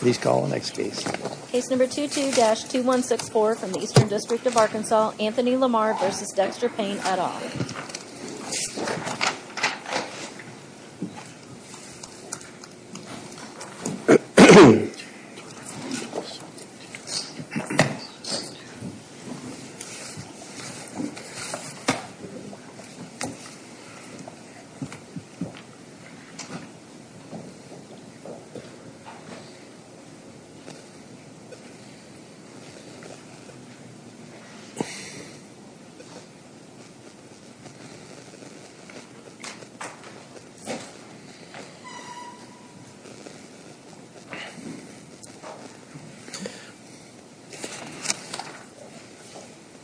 Please call the next case. Case number 22-2164 from the Eastern District of Arkansas, Anthony Lamar v. Dexter Payne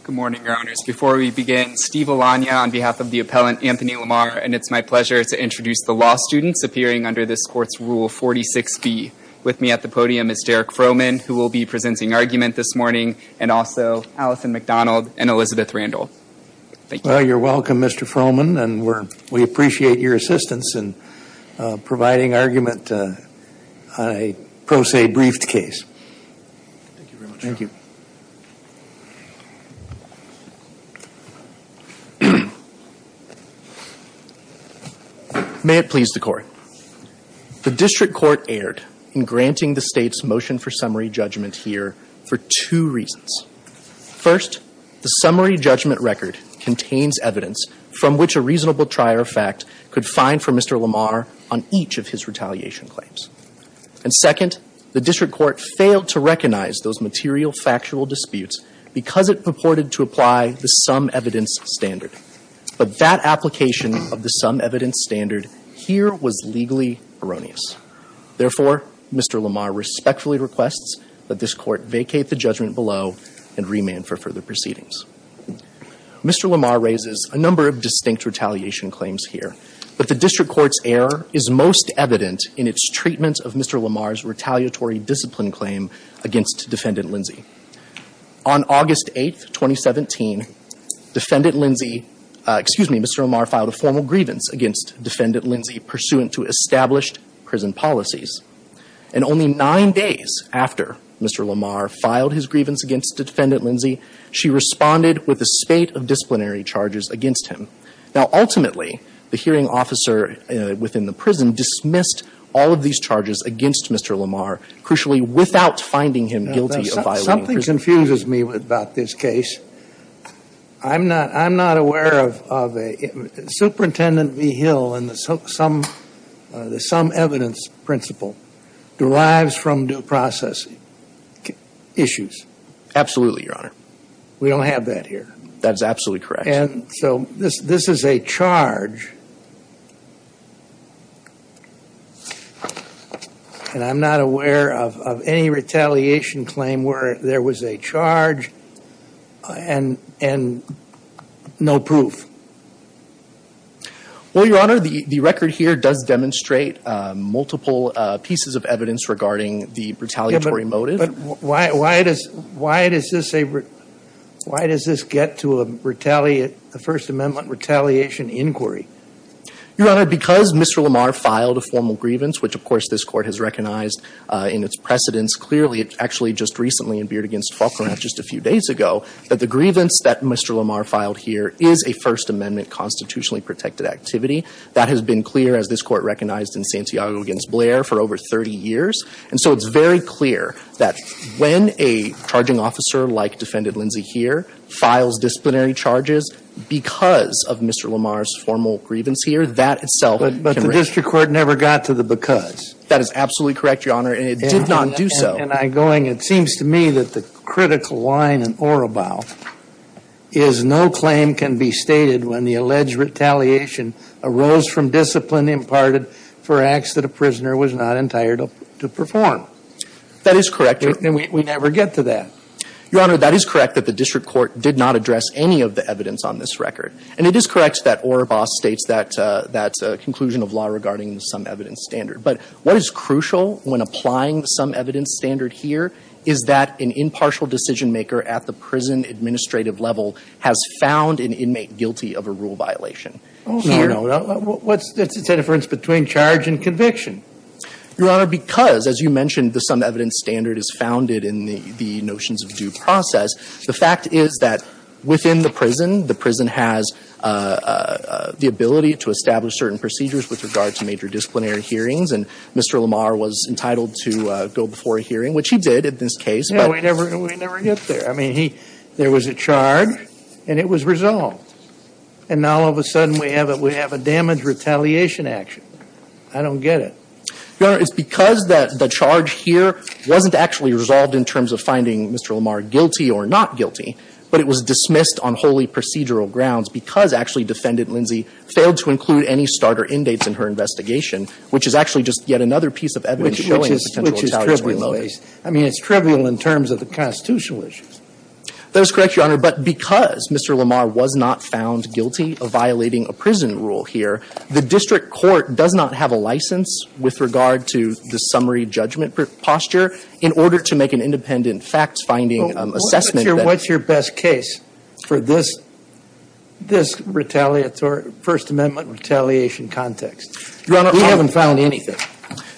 Good morning, your honors. Before we begin, Steve Alanya on behalf of the appellant Anthony Lamar, and it's my pleasure to introduce the law students appearing under this court's rule 46B. With me at the podium is Derek Froman, who will be presenting argument this morning, and also Allison McDonald and Elizabeth Randall. Well, you're welcome, Mr. Froman, and we appreciate your assistance in providing argument on a pro se briefed case. Thank you. May it please the court. The district court erred in granting the state's motion for summary First, the summary judgment record contains evidence from which a reasonable trier of fact could find for Mr. Lamar on each of his retaliation claims. And second, the district court failed to recognize those material factual disputes because it purported to apply the sum evidence standard. But that application of the sum evidence standard here was legally erroneous. Therefore, Mr. Lamar respectfully requests that this court vacate the judgment below and remand for further proceedings. Mr. Lamar raises a number of distinct retaliation claims here, but the district court's error is most evident in its treatment of Mr. Lamar's retaliatory discipline claim against Defendant Lindsay. On August 8th, 2017, Defendant Lindsay, excuse me, Mr. Lamar filed a formal grievance against Defendant Lindsay pursuant to established prison policies. And only nine days after Mr. Lamar filed his grievance against Defendant Lindsay, she responded with a spate of disciplinary charges against him. Now, ultimately, the hearing officer within the prison dismissed all of these charges against Mr. Lamar, crucially without finding him guilty of violating prison standards. Something confuses me about this case. I'm not, I'm not aware of a, Superintendent V. Hill and the sum, the sum evidence principle derives from due process issues. Absolutely, your honor. We don't have that here. That's absolutely correct. And so this, this is a charge, and I'm not aware of any retaliation claim where there was a charge and, and no proof. Well, your honor, the, the record here does demonstrate multiple pieces of evidence regarding the retaliatory motive. But why, why does, why does this a, why does this get to a retaliate, a First Amendment retaliation inquiry? Your honor, because Mr. Lamar filed a formal grievance, which of course this court has just a few days ago, that the grievance that Mr. Lamar filed here is a First Amendment constitutionally protected activity. That has been clear as this court recognized in Santiago against Blair for over 30 years. And so it's very clear that when a charging officer like defendant Lindsay here files disciplinary charges because of Mr. Lamar's formal grievance here, that itself. But the district court never got to the because. That is absolutely correct, your honor. And it did not do so. It seems to me that the critical line in Orobao is no claim can be stated when the alleged retaliation arose from discipline imparted for acts that a prisoner was not entitled to perform. That is correct. We never get to that. Your honor, that is correct that the district court did not address any of the evidence on this record. And it is correct that Orobao states that, that conclusion of law regarding some evidence standard. But what is crucial when applying some evidence standard here is that an impartial decision maker at the prison administrative level has found an inmate guilty of a rule violation. Oh, no, no. What's the difference between charge and conviction? Your honor, because as you mentioned, the some evidence standard is founded in the notions of due process. The fact is that within the prison, the prison has the ability to establish certain and Mr. Lamar was entitled to go before a hearing, which he did at this case. But we never, we never get there. I mean, he, there was a charge and it was resolved. And now all of a sudden we have it. We have a damage retaliation action. I don't get it. Your honor, it's because that the charge here wasn't actually resolved in terms of finding Mr. Lamar guilty or not guilty. But it was dismissed on wholly procedural grounds because actually defendant failed to include any starter in dates in her investigation, which is actually just yet another piece of evidence. Which is trivial. I mean, it's trivial in terms of the constitutional issues. That is correct, your honor. But because Mr. Lamar was not found guilty of violating a prison rule here, the district court does not have a license with regard to the summary judgment posture in order to make an independent facts finding assessment. What's your best case for this, this retaliatory, First Amendment retaliation context? Your honor, we haven't found anything.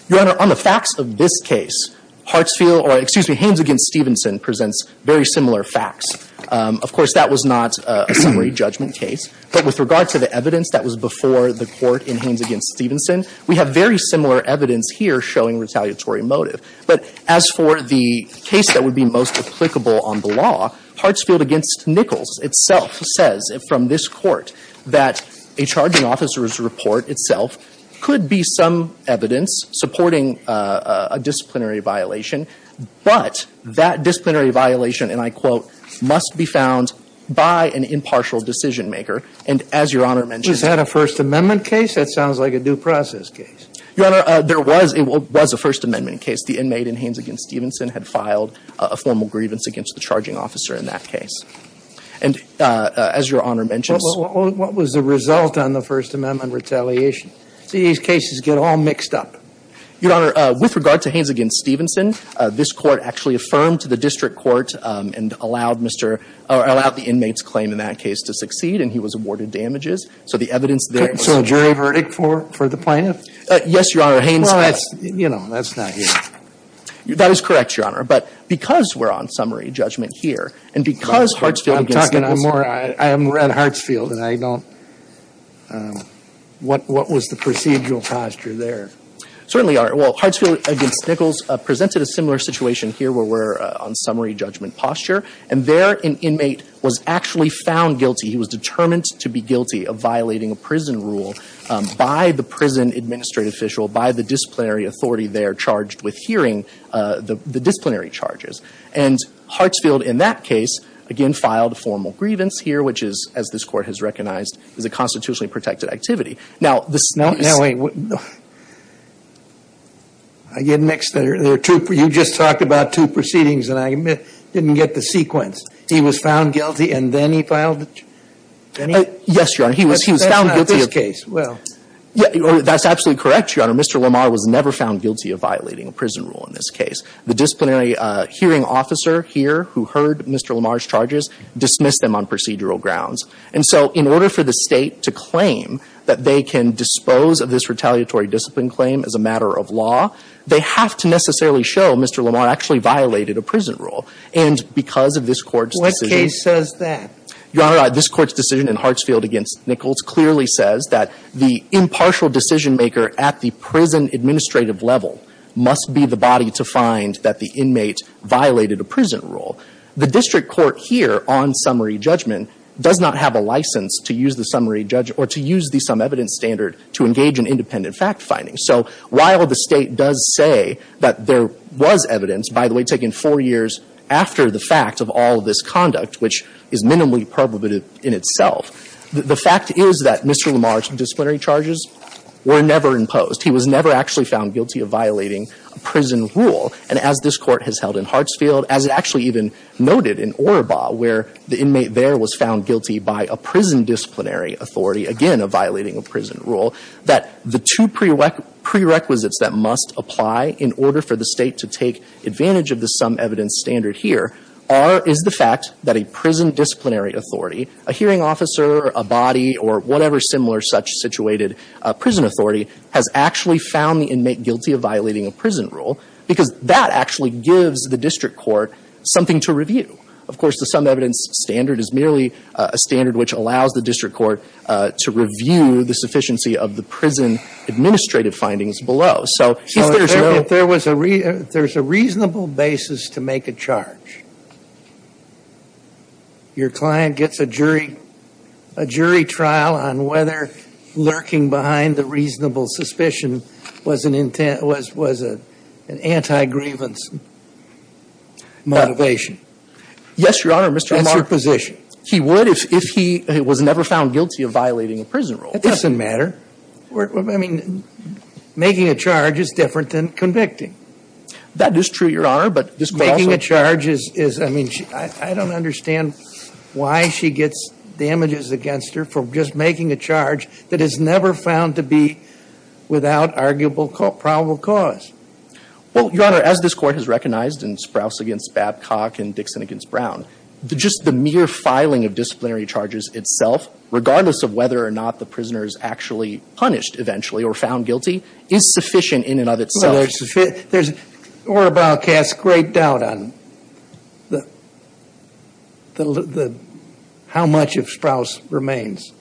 Your honor, on the facts of this case, Hartsfield, or excuse me, Haynes against Stevenson presents very similar facts. Of course, that was not a summary judgment case. But with regard to the evidence that was before the court in Haynes against Stevenson, we have very similar evidence here showing retaliatory motive. But as for the case that would be most applicable on the law, Hartsfield against Nichols itself says from this court that a charging officer's report itself could be some evidence supporting a disciplinary violation. But that disciplinary violation, and I quote, must be found by an impartial decision maker. And as your honor mentioned. Was that a First Amendment case? That sounds like a due process case. Your honor, there was. It was a First Amendment case. The inmate in Haynes against Stevenson had filed a formal grievance against the charging officer in that case. And as your honor mentioned. What was the result on the First Amendment retaliation? These cases get all mixed up. Your honor, with regard to Haynes against Stevenson, this court actually affirmed to the district court and allowed Mr. or allowed the inmate's claim in that case to succeed. And he was awarded damages. So the evidence there. So jury verdict for the plaintiff? Yes, your honor. Haynes. You know, that's not here. That is correct, your honor. But because we're on summary judgment here. And because Hartsfield. I'm talking I'm more. I am at Hartsfield and I don't. What was the procedural posture there? Certainly are. Well, Hartsfield against Nichols presented a similar situation here where we're on summary judgment posture. And there an inmate was actually found guilty. He was determined to be guilty of violating a prison rule by the prison administrative official, by the disciplinary authority. They are charged with hearing the disciplinary charges. And Hartsfield, in that case, again, filed formal grievance here, which is, as this court has recognized, is a constitutionally protected activity. Now, the snow. Now, wait. I get mixed there. There are two. You just talked about two proceedings and I didn't get the sequence. He was found guilty and then he filed. Yes, your honor. He was he was found guilty of this case. Yeah, that's absolutely correct, your honor. Mr. Lamar was never found guilty of violating a prison rule in this case. The disciplinary hearing officer here who heard Mr. Lamar's charges dismissed them on procedural grounds. And so in order for the state to claim that they can dispose of this retaliatory discipline claim as a matter of law, they have to necessarily show Mr. Lamar actually violated a prison rule. And because of this court's decision. What case says that? Your honor, this court's decision in Hartsfield against Nichols clearly says that the impartial decision maker at the prison administrative level must be the body to find that the inmate violated a prison rule. The district court here on summary judgment does not have a license to use the summary judge or to use the some evidence standard to engage in independent fact finding. So while the state does say that there was evidence, by the way, taking four years after the fact of all of this conduct, which is minimally probative in itself. The fact is that Mr. Lamar's disciplinary charges were never imposed. He was never actually found guilty of violating a prison rule. And as this court has held in Hartsfield, as it actually even noted in Oroba, where the inmate there was found guilty by a prison disciplinary authority, again violating a prison rule, that the two prerequisites that must apply in order for the state to take advantage of the some evidence standard here are, is the fact that a prison disciplinary authority, whether a body or whatever similar such situated prison authority, has actually found the inmate guilty of violating a prison rule, because that actually gives the district court something to review. Of course, the some evidence standard is merely a standard which allows the district court to review the sufficiency of the prison administrative findings below. So if there's no So if there's a reasonable basis to make a charge, your client gets a jury trial on whether lurking behind the reasonable suspicion was an anti-grievance motivation. Yes, Your Honor. That's your position. He would if he was never found guilty of violating a prison rule. It doesn't matter. I mean, making a charge is different than convicting. That is true, Your Honor. Making a charge is, I mean, I don't understand why she gets damages against her for just making a charge that is never found to be without arguable probable cause. Well, Your Honor, as this Court has recognized in Sprouse v. Babcock and Dixon v. Brown, just the mere filing of disciplinary charges itself, regardless of whether or not the prisoner is actually punished eventually or found guilty, is sufficient in and of itself. There's order broadcast great doubt on how much of Sprouse remains.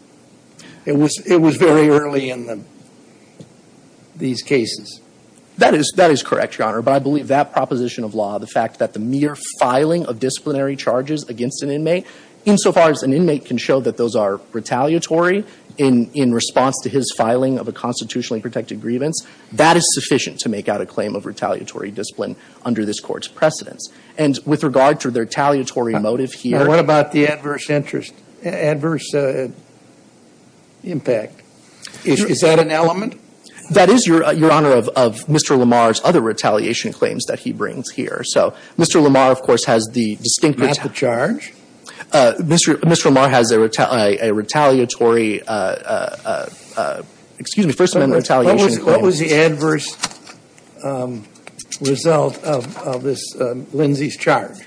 It was very early in these cases. That is correct, Your Honor. But I believe that proposition of law, the fact that the mere filing of disciplinary charges against an inmate, insofar as an inmate can show that those are retaliatory in response to his filing of a constitutionally protected grievance, that is sufficient to make out a claim of retaliatory discipline under this Court's precedence. And with regard to the retaliatory motive here— What about the adverse interest, adverse impact? Is that an element? That is, Your Honor, of Mr. Lamar's other retaliation claims that he brings here. So Mr. Lamar, of course, has the distinct— Not the charge? Mr. Lamar has a retaliatory—excuse me, First Amendment retaliation— What was the adverse result of this—Lindsey's charge?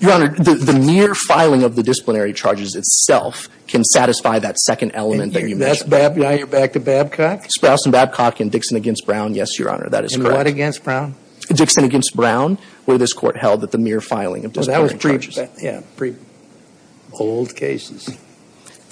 Your Honor, the mere filing of the disciplinary charges itself can satisfy that second element that you mentioned. Now you're back to Babcock? Sprouse and Babcock in Dixon v. Brown, yes, Your Honor. That is correct. And what against Brown? Dixon v. Brown, where this Court held that the mere filing of disciplinary charges— Well, that was pre—old cases.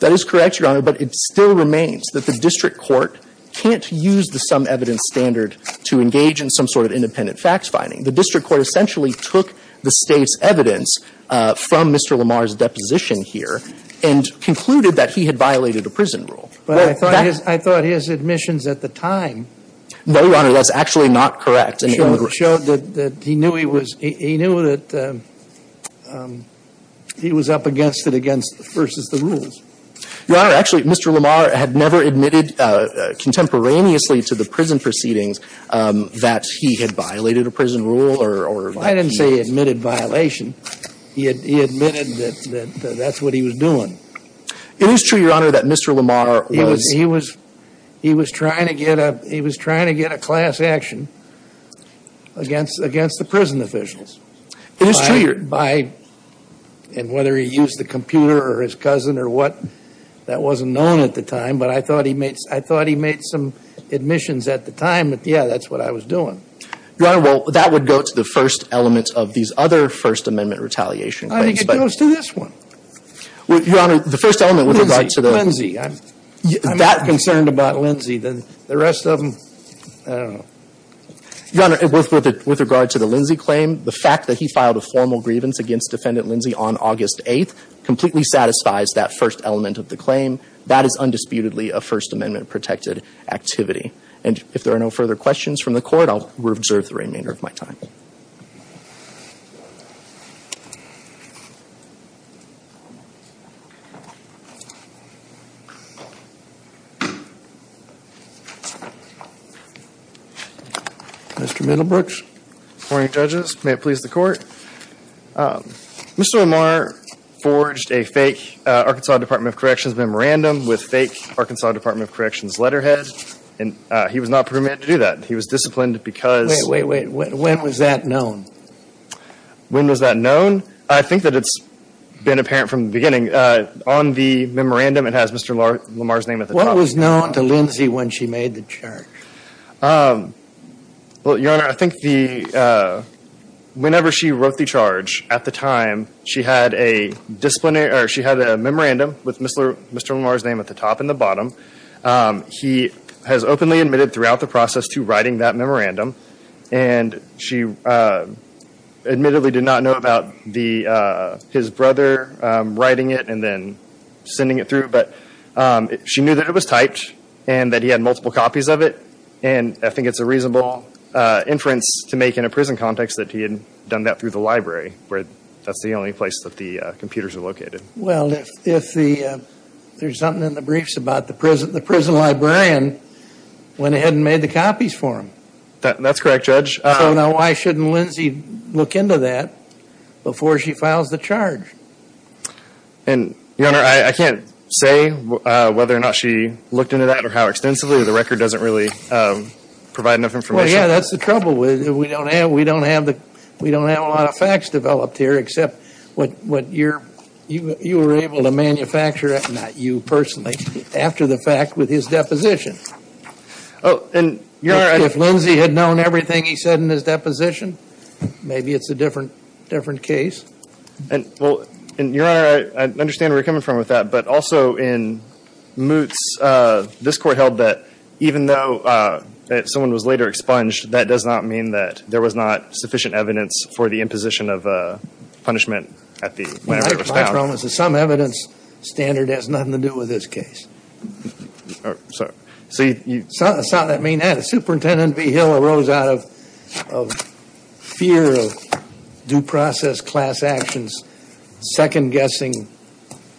That is correct, Your Honor. But it still remains that the district court can't use the sum evidence standard to engage in some sort of independent facts finding. The district court essentially took the State's evidence from Mr. Lamar's deposition here and concluded that he had violated a prison rule. But I thought his—I thought his admissions at the time— No, Your Honor. That's actually not correct. —showed that he knew he was—he knew that he was up against it against—versus the rules. Your Honor, actually, Mr. Lamar had never admitted contemporaneously to the prison proceedings that he had violated a prison rule or— I didn't say he admitted violation. He admitted that that's what he was doing. It is true, Your Honor, that Mr. Lamar was— He was—he was trying to get a—he was trying to get a class action against—against the prison officials. It is true, Your— By—and whether he used the computer or his cousin or what, that wasn't known at the time. But I thought he made—I thought he made some admissions at the time. But, yeah, that's what I was doing. Your Honor, well, that would go to the first element of these other First Amendment retaliation claims, but— I think it goes to this one. Your Honor, the first element with regard to the— Lindsay. I'm—I'm concerned about Lindsay. The rest of them, I don't know. Your Honor, with regard to the Lindsay claim, the fact that he filed a formal grievance against Defendant Lindsay on August 8th completely satisfies that first element of the claim. That is undisputedly a First Amendment-protected activity. And if there are no further questions from the Court, I will observe the remainder of my time. Mr. Middlebrooks. Morning, Judges. May it please the Court. Mr. Lamar forged a fake Arkansas Department of Corrections memorandum with fake Arkansas Department of Corrections letterhead, and he was not permitted to do that. He was disciplined because— Wait, wait, wait. When was that known? When was that known? I think that it's been apparent from the beginning. On the memorandum, it has Mr. Lamar's name at the top. What was known to Lindsay when she made the charge? Um, well, Your Honor, I think the, uh, whenever she wrote the charge, at the time, she had a disciplinary, or she had a memorandum with Mr. Lamar's name at the top and the bottom. He has openly admitted throughout the process to writing that memorandum, and she admittedly did not know about the, uh, his brother writing it and then sending it through, but she knew that it was typed and that he had multiple copies of it. And I think it's a reasonable, uh, inference to make in a prison context that he had done that through the library, where that's the only place that the, uh, computers are located. Well, if the, uh, there's something in the briefs about the prison, the prison librarian went ahead and made the copies for him. That's correct, Judge. So now why shouldn't Lindsay look into that before she files the charge? And, Your Honor, I can't say whether or not she looked into that or how extensively. The record doesn't really, um, provide enough information. Well, yeah, that's the trouble with it. We don't have, we don't have the, we don't have a lot of facts developed here, except what, what you're, you, you were able to manufacture, not you personally, after the fact with his deposition. Oh, and, Your Honor. If Lindsay had known everything he said in his deposition, maybe it's a different, different case. And, well, and, Your Honor, I understand where you're coming from with that, but also in this court held that even though, uh, that someone was later expunged, that does not mean that there was not sufficient evidence for the imposition of, uh, punishment at the. Some evidence standard has nothing to do with this case. Oh, sorry. So you saw that mean that Superintendent V. Hill arose out of, of fear of due process class actions, second guessing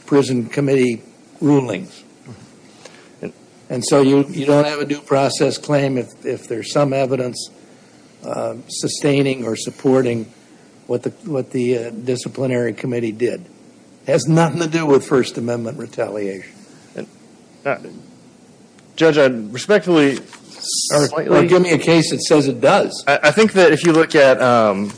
prison committee rulings. And so you, you don't have a due process claim if, if there's some evidence, uh, sustaining or supporting what the, what the, uh, disciplinary committee did. Has nothing to do with First Amendment retaliation. Judge, I'd respectfully slightly. Well, give me a case that says it does. I think that if you look at, um,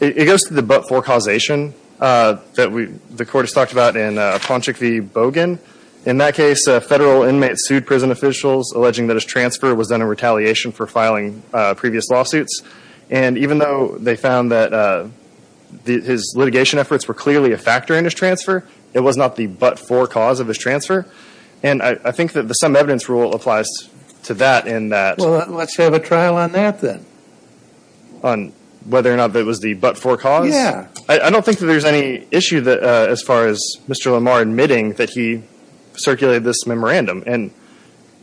it goes to the but-for causation, uh, that we, the court has talked about in, uh, Ponchik v. Bogan. In that case, a federal inmate sued prison officials, alleging that his transfer was done in retaliation for filing, uh, previous lawsuits. And even though they found that, uh, the, his litigation efforts were clearly a factor in his transfer, it was not the but-for cause of his transfer. And I, I think that the some evidence rule applies to that in that. Well, let's have a trial on that then. On whether or not that was the but-for cause? Yeah. I, I don't think that there's any issue that, uh, as far as Mr. Lamar admitting that he circulated this memorandum. And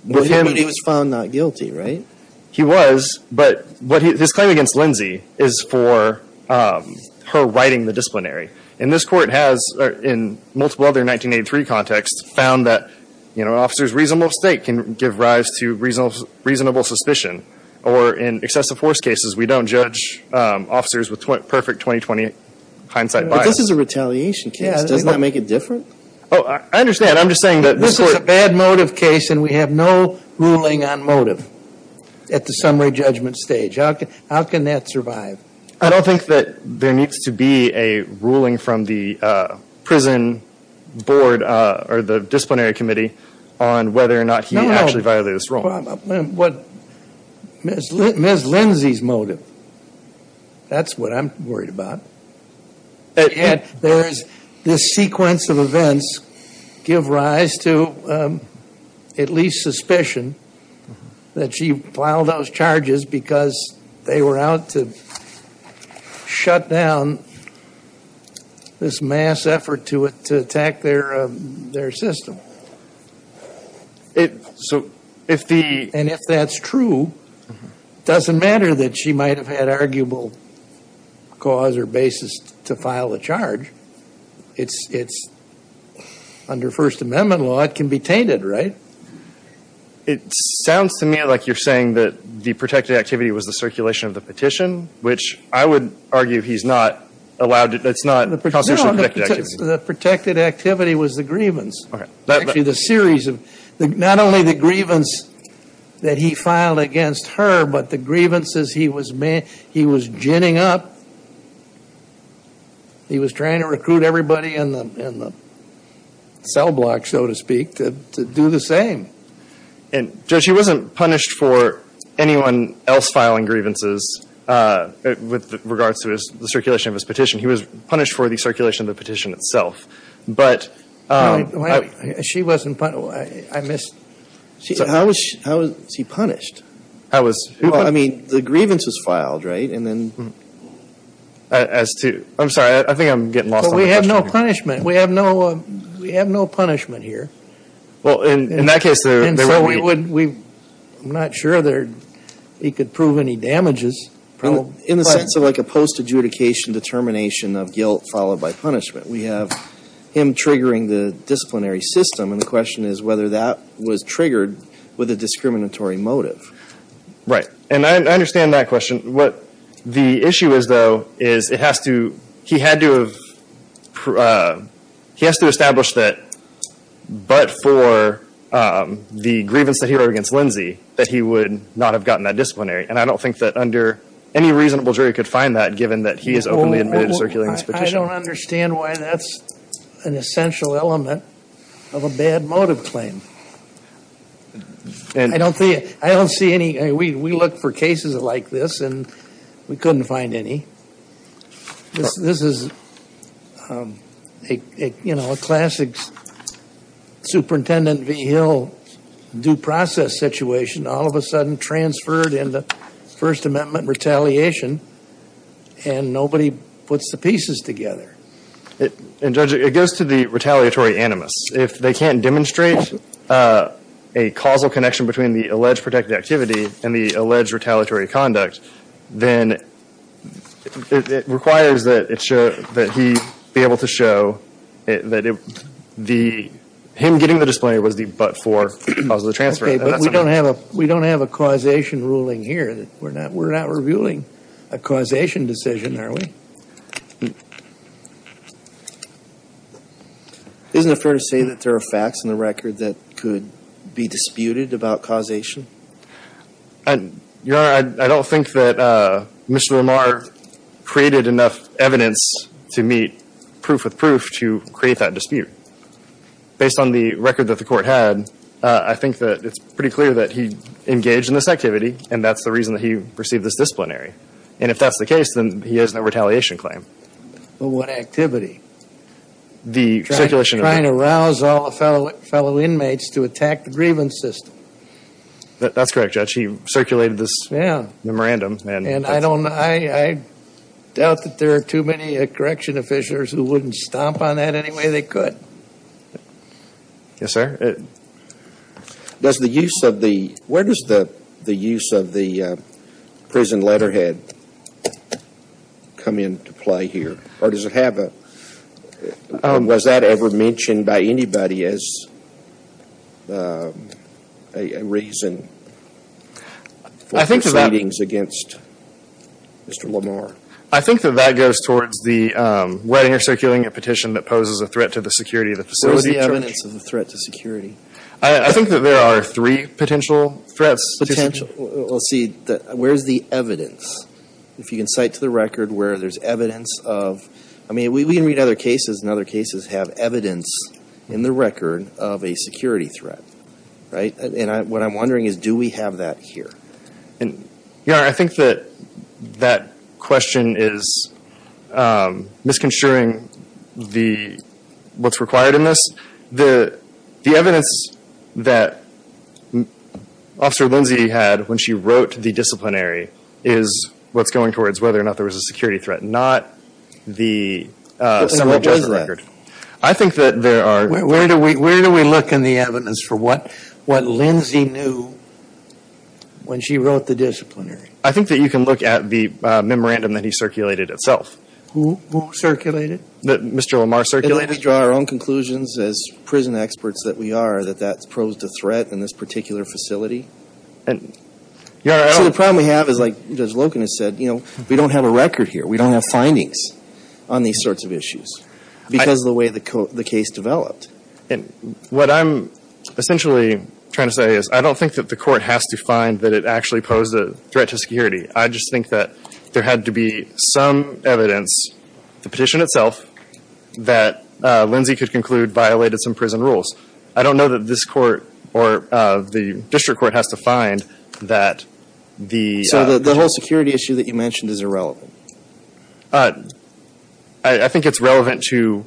with him. He was found not guilty, right? He was, but what he, his claim against Lindsay is for, um, her writing the disciplinary. And this court has, in multiple other 1983 contexts, found that, you know, an officer's reasonable state can give rise to reasonable, reasonable suspicion. Or in excessive force cases, we don't judge, um, officers with perfect 2020 hindsight bias. This is a retaliation case. Doesn't that make it different? Oh, I understand. I'm just saying that this is a bad motive case. And we have no ruling on motive at the summary judgment stage. How can, how can that survive? I don't think that there needs to be a ruling from the, uh, prison board, uh, or the disciplinary committee on whether or not he actually violated this rule. What, Ms. Lindsay's motive. That's what I'm worried about. And there's this sequence of events give rise to, um, at least suspicion that she filed those charges because they were out to shut down this mass effort to attack their, um, their system. It, so if the. And if that's true, it doesn't matter that she might have had arguable cause or basis to file a charge. It's, it's under First Amendment law, it can be tainted, right? It sounds to me like you're saying that the protected activity was the circulation of the petition, which I would argue he's not allowed. It's not constitutionally protected activity. The protected activity was the grievance. The series of the, not only the grievance that he filed against her, but the grievances he was, he was ginning up. He was trying to recruit everybody in the, in the cell block, so to speak, to do the same. And judge, he wasn't punished for anyone else filing grievances, uh, with regards to his, the circulation of his petition. He was punished for the circulation of the petition itself. But, um. I mean, she wasn't, I missed. She, so how was, how was he punished? I was, well, I mean, the grievance was filed, right? And then, as to, I'm sorry, I think I'm getting lost on the question here. Well, we have no punishment. We have no, we have no punishment here. Well, in that case, there, there wouldn't be. And so we would, we, I'm not sure there, he could prove any damages, probably. In the sense of like a post-adjudication determination of guilt followed by punishment. We have him triggering the disciplinary system. And the question is whether that was triggered with a discriminatory motive. Right. And I understand that question. What the issue is, though, is it has to, he had to have, uh, he has to establish that, but for, um, the grievance that he wrote against Lindsay, that he would not have gotten that disciplinary. And I don't think that under any reasonable jury could find that, given that he is openly admitted to circulating this petition. I don't understand why that's an essential element of a bad motive claim. And I don't think, I don't see any, we, we look for cases like this and we couldn't find any. This is, um, a, a, you know, a classic Superintendent V. Hill due process situation. All of a sudden transferred into First Amendment retaliation. And nobody puts the pieces together. And Judge, it goes to the retaliatory animus. If they can't demonstrate, uh, a causal connection between the alleged protected activity and the alleged retaliatory conduct, then it requires that it should, that he be able to show that it, the, him getting the disciplinary was the but for the cause of the transfer. Okay, but we don't have a, we don't have a causation ruling here that we're not, we're not reviewing a causation decision, are we? Isn't it fair to say that there are facts in the record that could be disputed about causation? I, Your Honor, I, I don't think that, uh, Mr. Lamar created enough evidence to meet proof with proof to create that dispute. Based on the record that the court had, uh, I think that it's pretty clear that he received this disciplinary. And if that's the case, then he has no retaliation claim. But what activity? The circulation. Trying to rouse all the fellow, fellow inmates to attack the grievance system. That's correct, Judge. He circulated this. Yeah. Memorandum. And, and I don't, I, I doubt that there are too many, uh, correction officials who wouldn't stomp on that any way they could. Yes, sir. It, does the use of the, where does the, the use of the, uh, prison letterhead come into play here? Or does it have a, um, was that ever mentioned by anybody as, uh, a, a reason for proceedings against Mr. Lamar? I think that that goes towards the, um, wetting or circulating a petition that poses a threat to the security of the facility. Where's the evidence of the threat to security? I, I think that there are three potential threats. Potential. Let's see, where's the evidence? If you can cite to the record where there's evidence of, I mean, we, we can read other cases and other cases have evidence in the record of a security threat, right? And I, what I'm wondering is, do we have that here? And, Your Honor, I think that, that question is, um, misconstruing the, what's required in this. The, the evidence that Officer Lindsay had when she wrote the disciplinary is what's going towards whether or not there was a security threat. Not the, uh, summary judgment record. I think that there are. Where do we, where do we look in the evidence for what, what Lindsay knew when she wrote the disciplinary? I think that you can look at the, uh, memorandum that he circulated itself. Who, who circulated? That Mr. Lamar circulated. We draw our own conclusions as prison experts that we are, that that posed a threat in this particular facility. And, Your Honor, I. So the problem we have is like Judge Loken has said, you know, we don't have a record here. We don't have findings on these sorts of issues because of the way the case developed. And what I'm essentially trying to say is, I don't think that the court has to find that it actually posed a threat to security. I just think that there had to be some evidence, the petition itself, that, uh, Lindsay could conclude violated some prison rules. I don't know that this court or, uh, the district court has to find that the. So the whole security issue that you mentioned is irrelevant. Uh, I, I think it's relevant to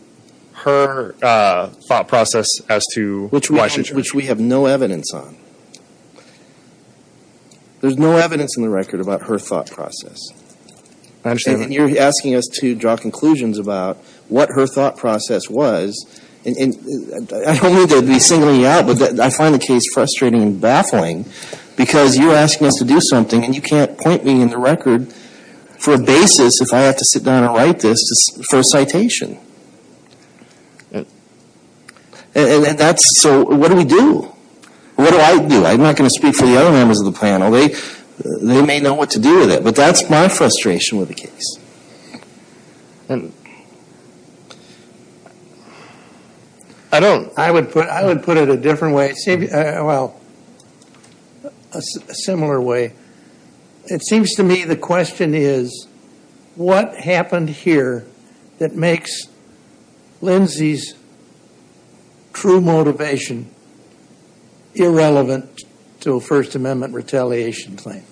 her, uh, thought process as to why she. Which we have no evidence on. There's no evidence in the record about her thought process. I understand. And you're asking us to draw conclusions about what her thought process was. And I don't mean to be singling you out, but I find the case frustrating and baffling because you're asking us to do something and you can't point me in the record for a basis if I have to sit down and write this for a citation. And that's, so what do we do? What do I do? I'm not going to speak for the other members of the panel. They, they may know what to do with it. But that's my frustration with the case. And I don't, I would put, I would put it a different way. Well, a similar way. It seems to me the question is what happened here that makes Lindsay's true motivation irrelevant to a First Amendment retaliation claim?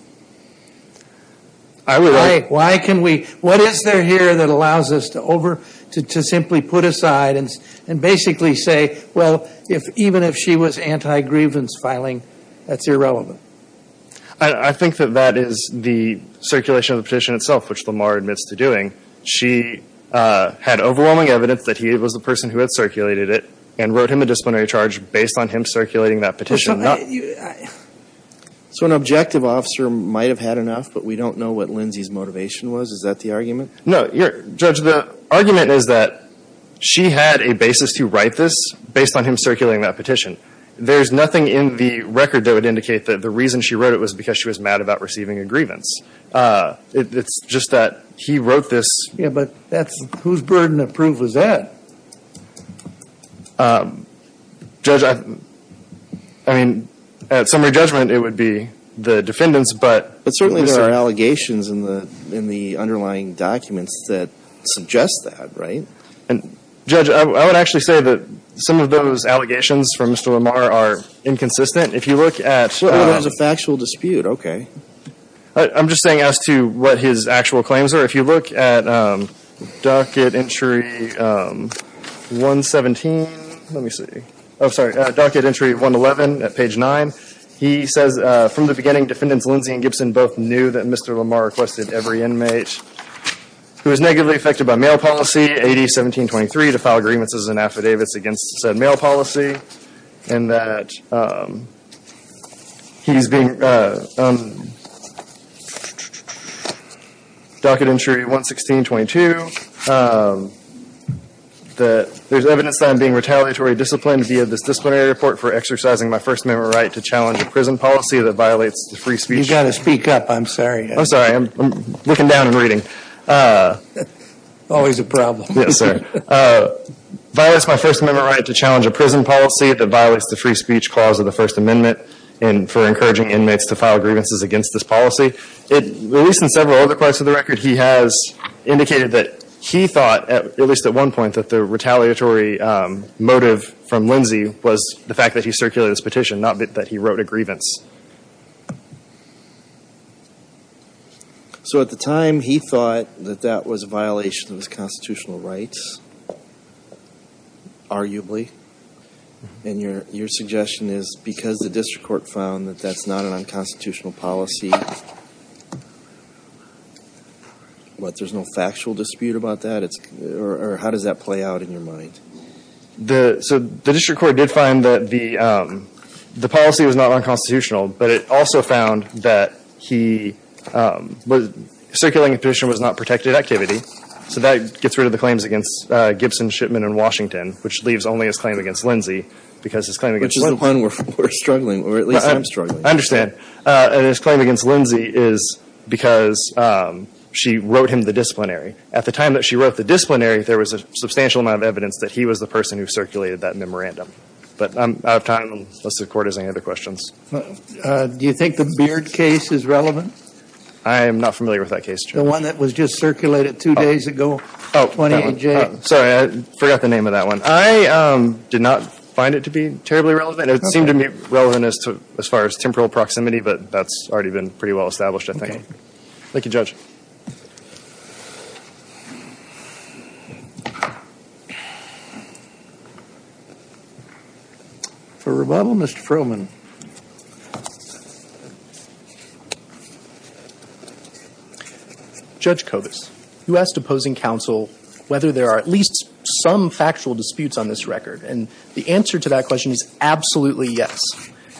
I would. Why can we, what is there here that allows us to over, to simply put aside and, and basically say, well, if even if she was anti-grievance filing, that's irrelevant. I think that that is the circulation of the petition itself, which Lamar admits to doing. She, uh, had overwhelming evidence that he was the person who had circulated it and wrote him a disciplinary charge based on him circulating that petition. So an objective officer might have had enough, but we don't know what Lindsay's motivation was? Is that the argument? No, your, Judge, the argument is that she had a basis to write this based on him circulating that petition. There's nothing in the record that would indicate that the reason she wrote it was because she was mad about receiving a grievance. It's just that he wrote this. Yeah, but that's, whose burden of proof was that? Um, Judge, I, I mean, at summary judgment, it would be the defendant's, but. But certainly there are allegations in the, in the underlying documents that suggest that, right? And Judge, I would actually say that some of those allegations from Mr. Lamar are inconsistent. If you look at. It was a factual dispute, okay. I'm just saying as to what his actual claims are. If you look at, um, docket entry, um, 117. Let me see. Oh, sorry, docket entry 111 at page 9. He says, uh, from the beginning defendants Lindsay and Gibson both knew that Mr. Lamar requested every inmate who was negatively affected by mail policy AD 1723 to file grievances and affidavits against said mail policy. And that, um, he's being, um, docket entry 116.22, um, that there's evidence that I'm being retaliatory disciplined via this disciplinary report for exercising my First Amendment right to challenge a prison policy that violates the free speech. You gotta speak up. I'm sorry. I'm sorry. I'm looking down and reading. Always a problem. Yes, sir. Uh, violates my First Amendment right to challenge a prison policy that violates the free speech clause of the First Amendment and for encouraging inmates to file grievances against this policy. It, at least in several other parts of the record, he has indicated that he thought, at least at one point, that the retaliatory, um, motive from Lindsay was the fact that he circulated this petition, not that he wrote a grievance. So at the time he thought that that was a violation of his constitutional rights. Arguably. And your, your suggestion is because the district court found that that's not an unconstitutional policy, what, there's no factual dispute about that? It's, or how does that play out in your mind? The, so the district court did find that the, um, the policy was not unconstitutional, but it also found that he, um, was, circulating a petition was not protected activity. So that gets rid of the claims against, uh, Gibson, Shipman, and Washington, which leaves only his claim against Lindsay, because his claim against. Which is the one we're, we're struggling, or at least I'm struggling. I understand. Uh, and his claim against Lindsay is because, um, she wrote him the disciplinary. At the time that she wrote the disciplinary, there was a substantial amount of evidence that he was the person who circulated that memorandum. But I'm out of time, unless the court has any other questions. Do you think the Beard case is relevant? I am not familiar with that case, Judge. The one that was just circulated two days ago. Oh, sorry, I forgot the name of that one. I, um, did not find it to be terribly relevant. It seemed to be relevant as to, as far as temporal proximity, but that's already been pretty well established, I think. Thank you, Judge. For rebuttal, Mr. Froman. Judge Kovas, you asked opposing counsel whether there are at least some factual disputes on this record. And the answer to that question is absolutely yes.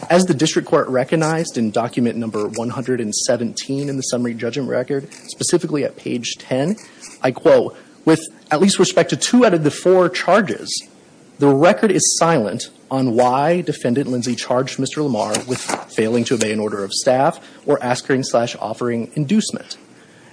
As the district court recognized in document number 117 in the summary judgment record, specifically at page 10, I quote, with at least respect to two out of the four charges, the record is silent on why defendant Lindsay charged Mr. Lamar with failing to obey an order of staff or askering slash offering inducement.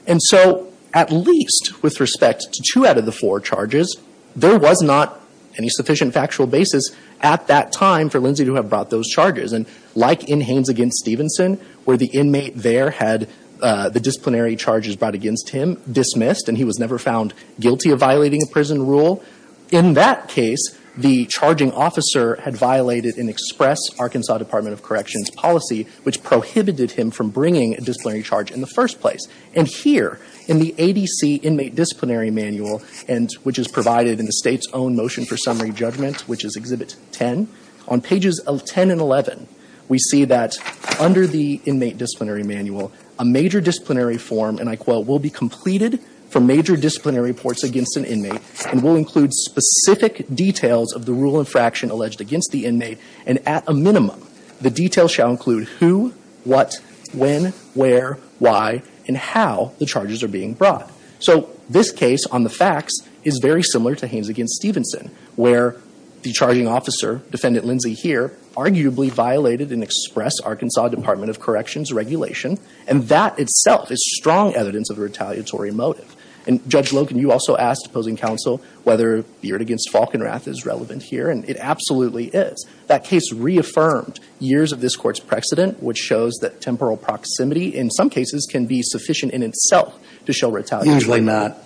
And so at least with respect to two out of the four charges, there was not any sufficient factual basis at that time for Lindsay to have brought those charges. And like in Haines against Stevenson, where the inmate there had the disciplinary charges brought against him dismissed, and he was never found guilty of violating a prison rule, in that case, the charging officer had violated an express Arkansas Department of Corrections policy, which prohibited him from bringing a disciplinary charge in the first place. And here, in the ADC Inmate Disciplinary Manual, and which is provided in the State's own motion for summary judgment, which is Exhibit 10, on pages 10 and 11, we see that under the Inmate Disciplinary Manual, a major disciplinary form, and I quote, will be completed for major disciplinary reports against an inmate and will include specific details of the rule infraction alleged against the inmate, and at a minimum, the details shall include who, what, when, where, why, and how the charges are being brought. So this case on the facts is very similar to Haines against Stevenson, where the charging officer, Defendant Lindsay here, arguably violated an express Arkansas Department of Corrections regulation, and that itself is strong evidence of a retaliatory motive. And Judge Logan, you also asked opposing counsel whether Beard against Falkenrath is relevant here, and it absolutely is. That case reaffirmed years of this Court's precedent, which shows that temporal proximity in some cases can be sufficient in itself to show retaliation. Usually not.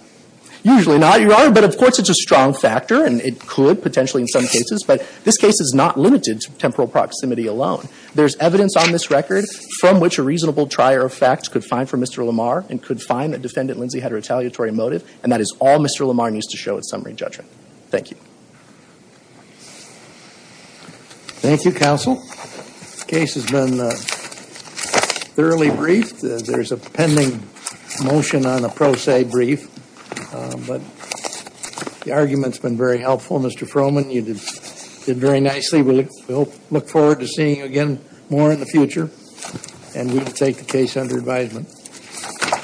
Usually not, Your Honor, but of course it's a strong factor, and it could potentially in some cases, but this case is not limited to temporal proximity alone. There's evidence on this record from which a reasonable trier of facts could find for Mr. Lamar and could find that Defendant Lindsay had a retaliatory motive, and that is all Mr. Lamar needs to show at summary judgment. Thank you. Thank you, counsel. The case has been thoroughly briefed. There's a pending motion on a pro se brief, but the argument's been very helpful, Mr. Froman. You did very nicely. We look forward to seeing you again more in the future, and we will take the case under advisement.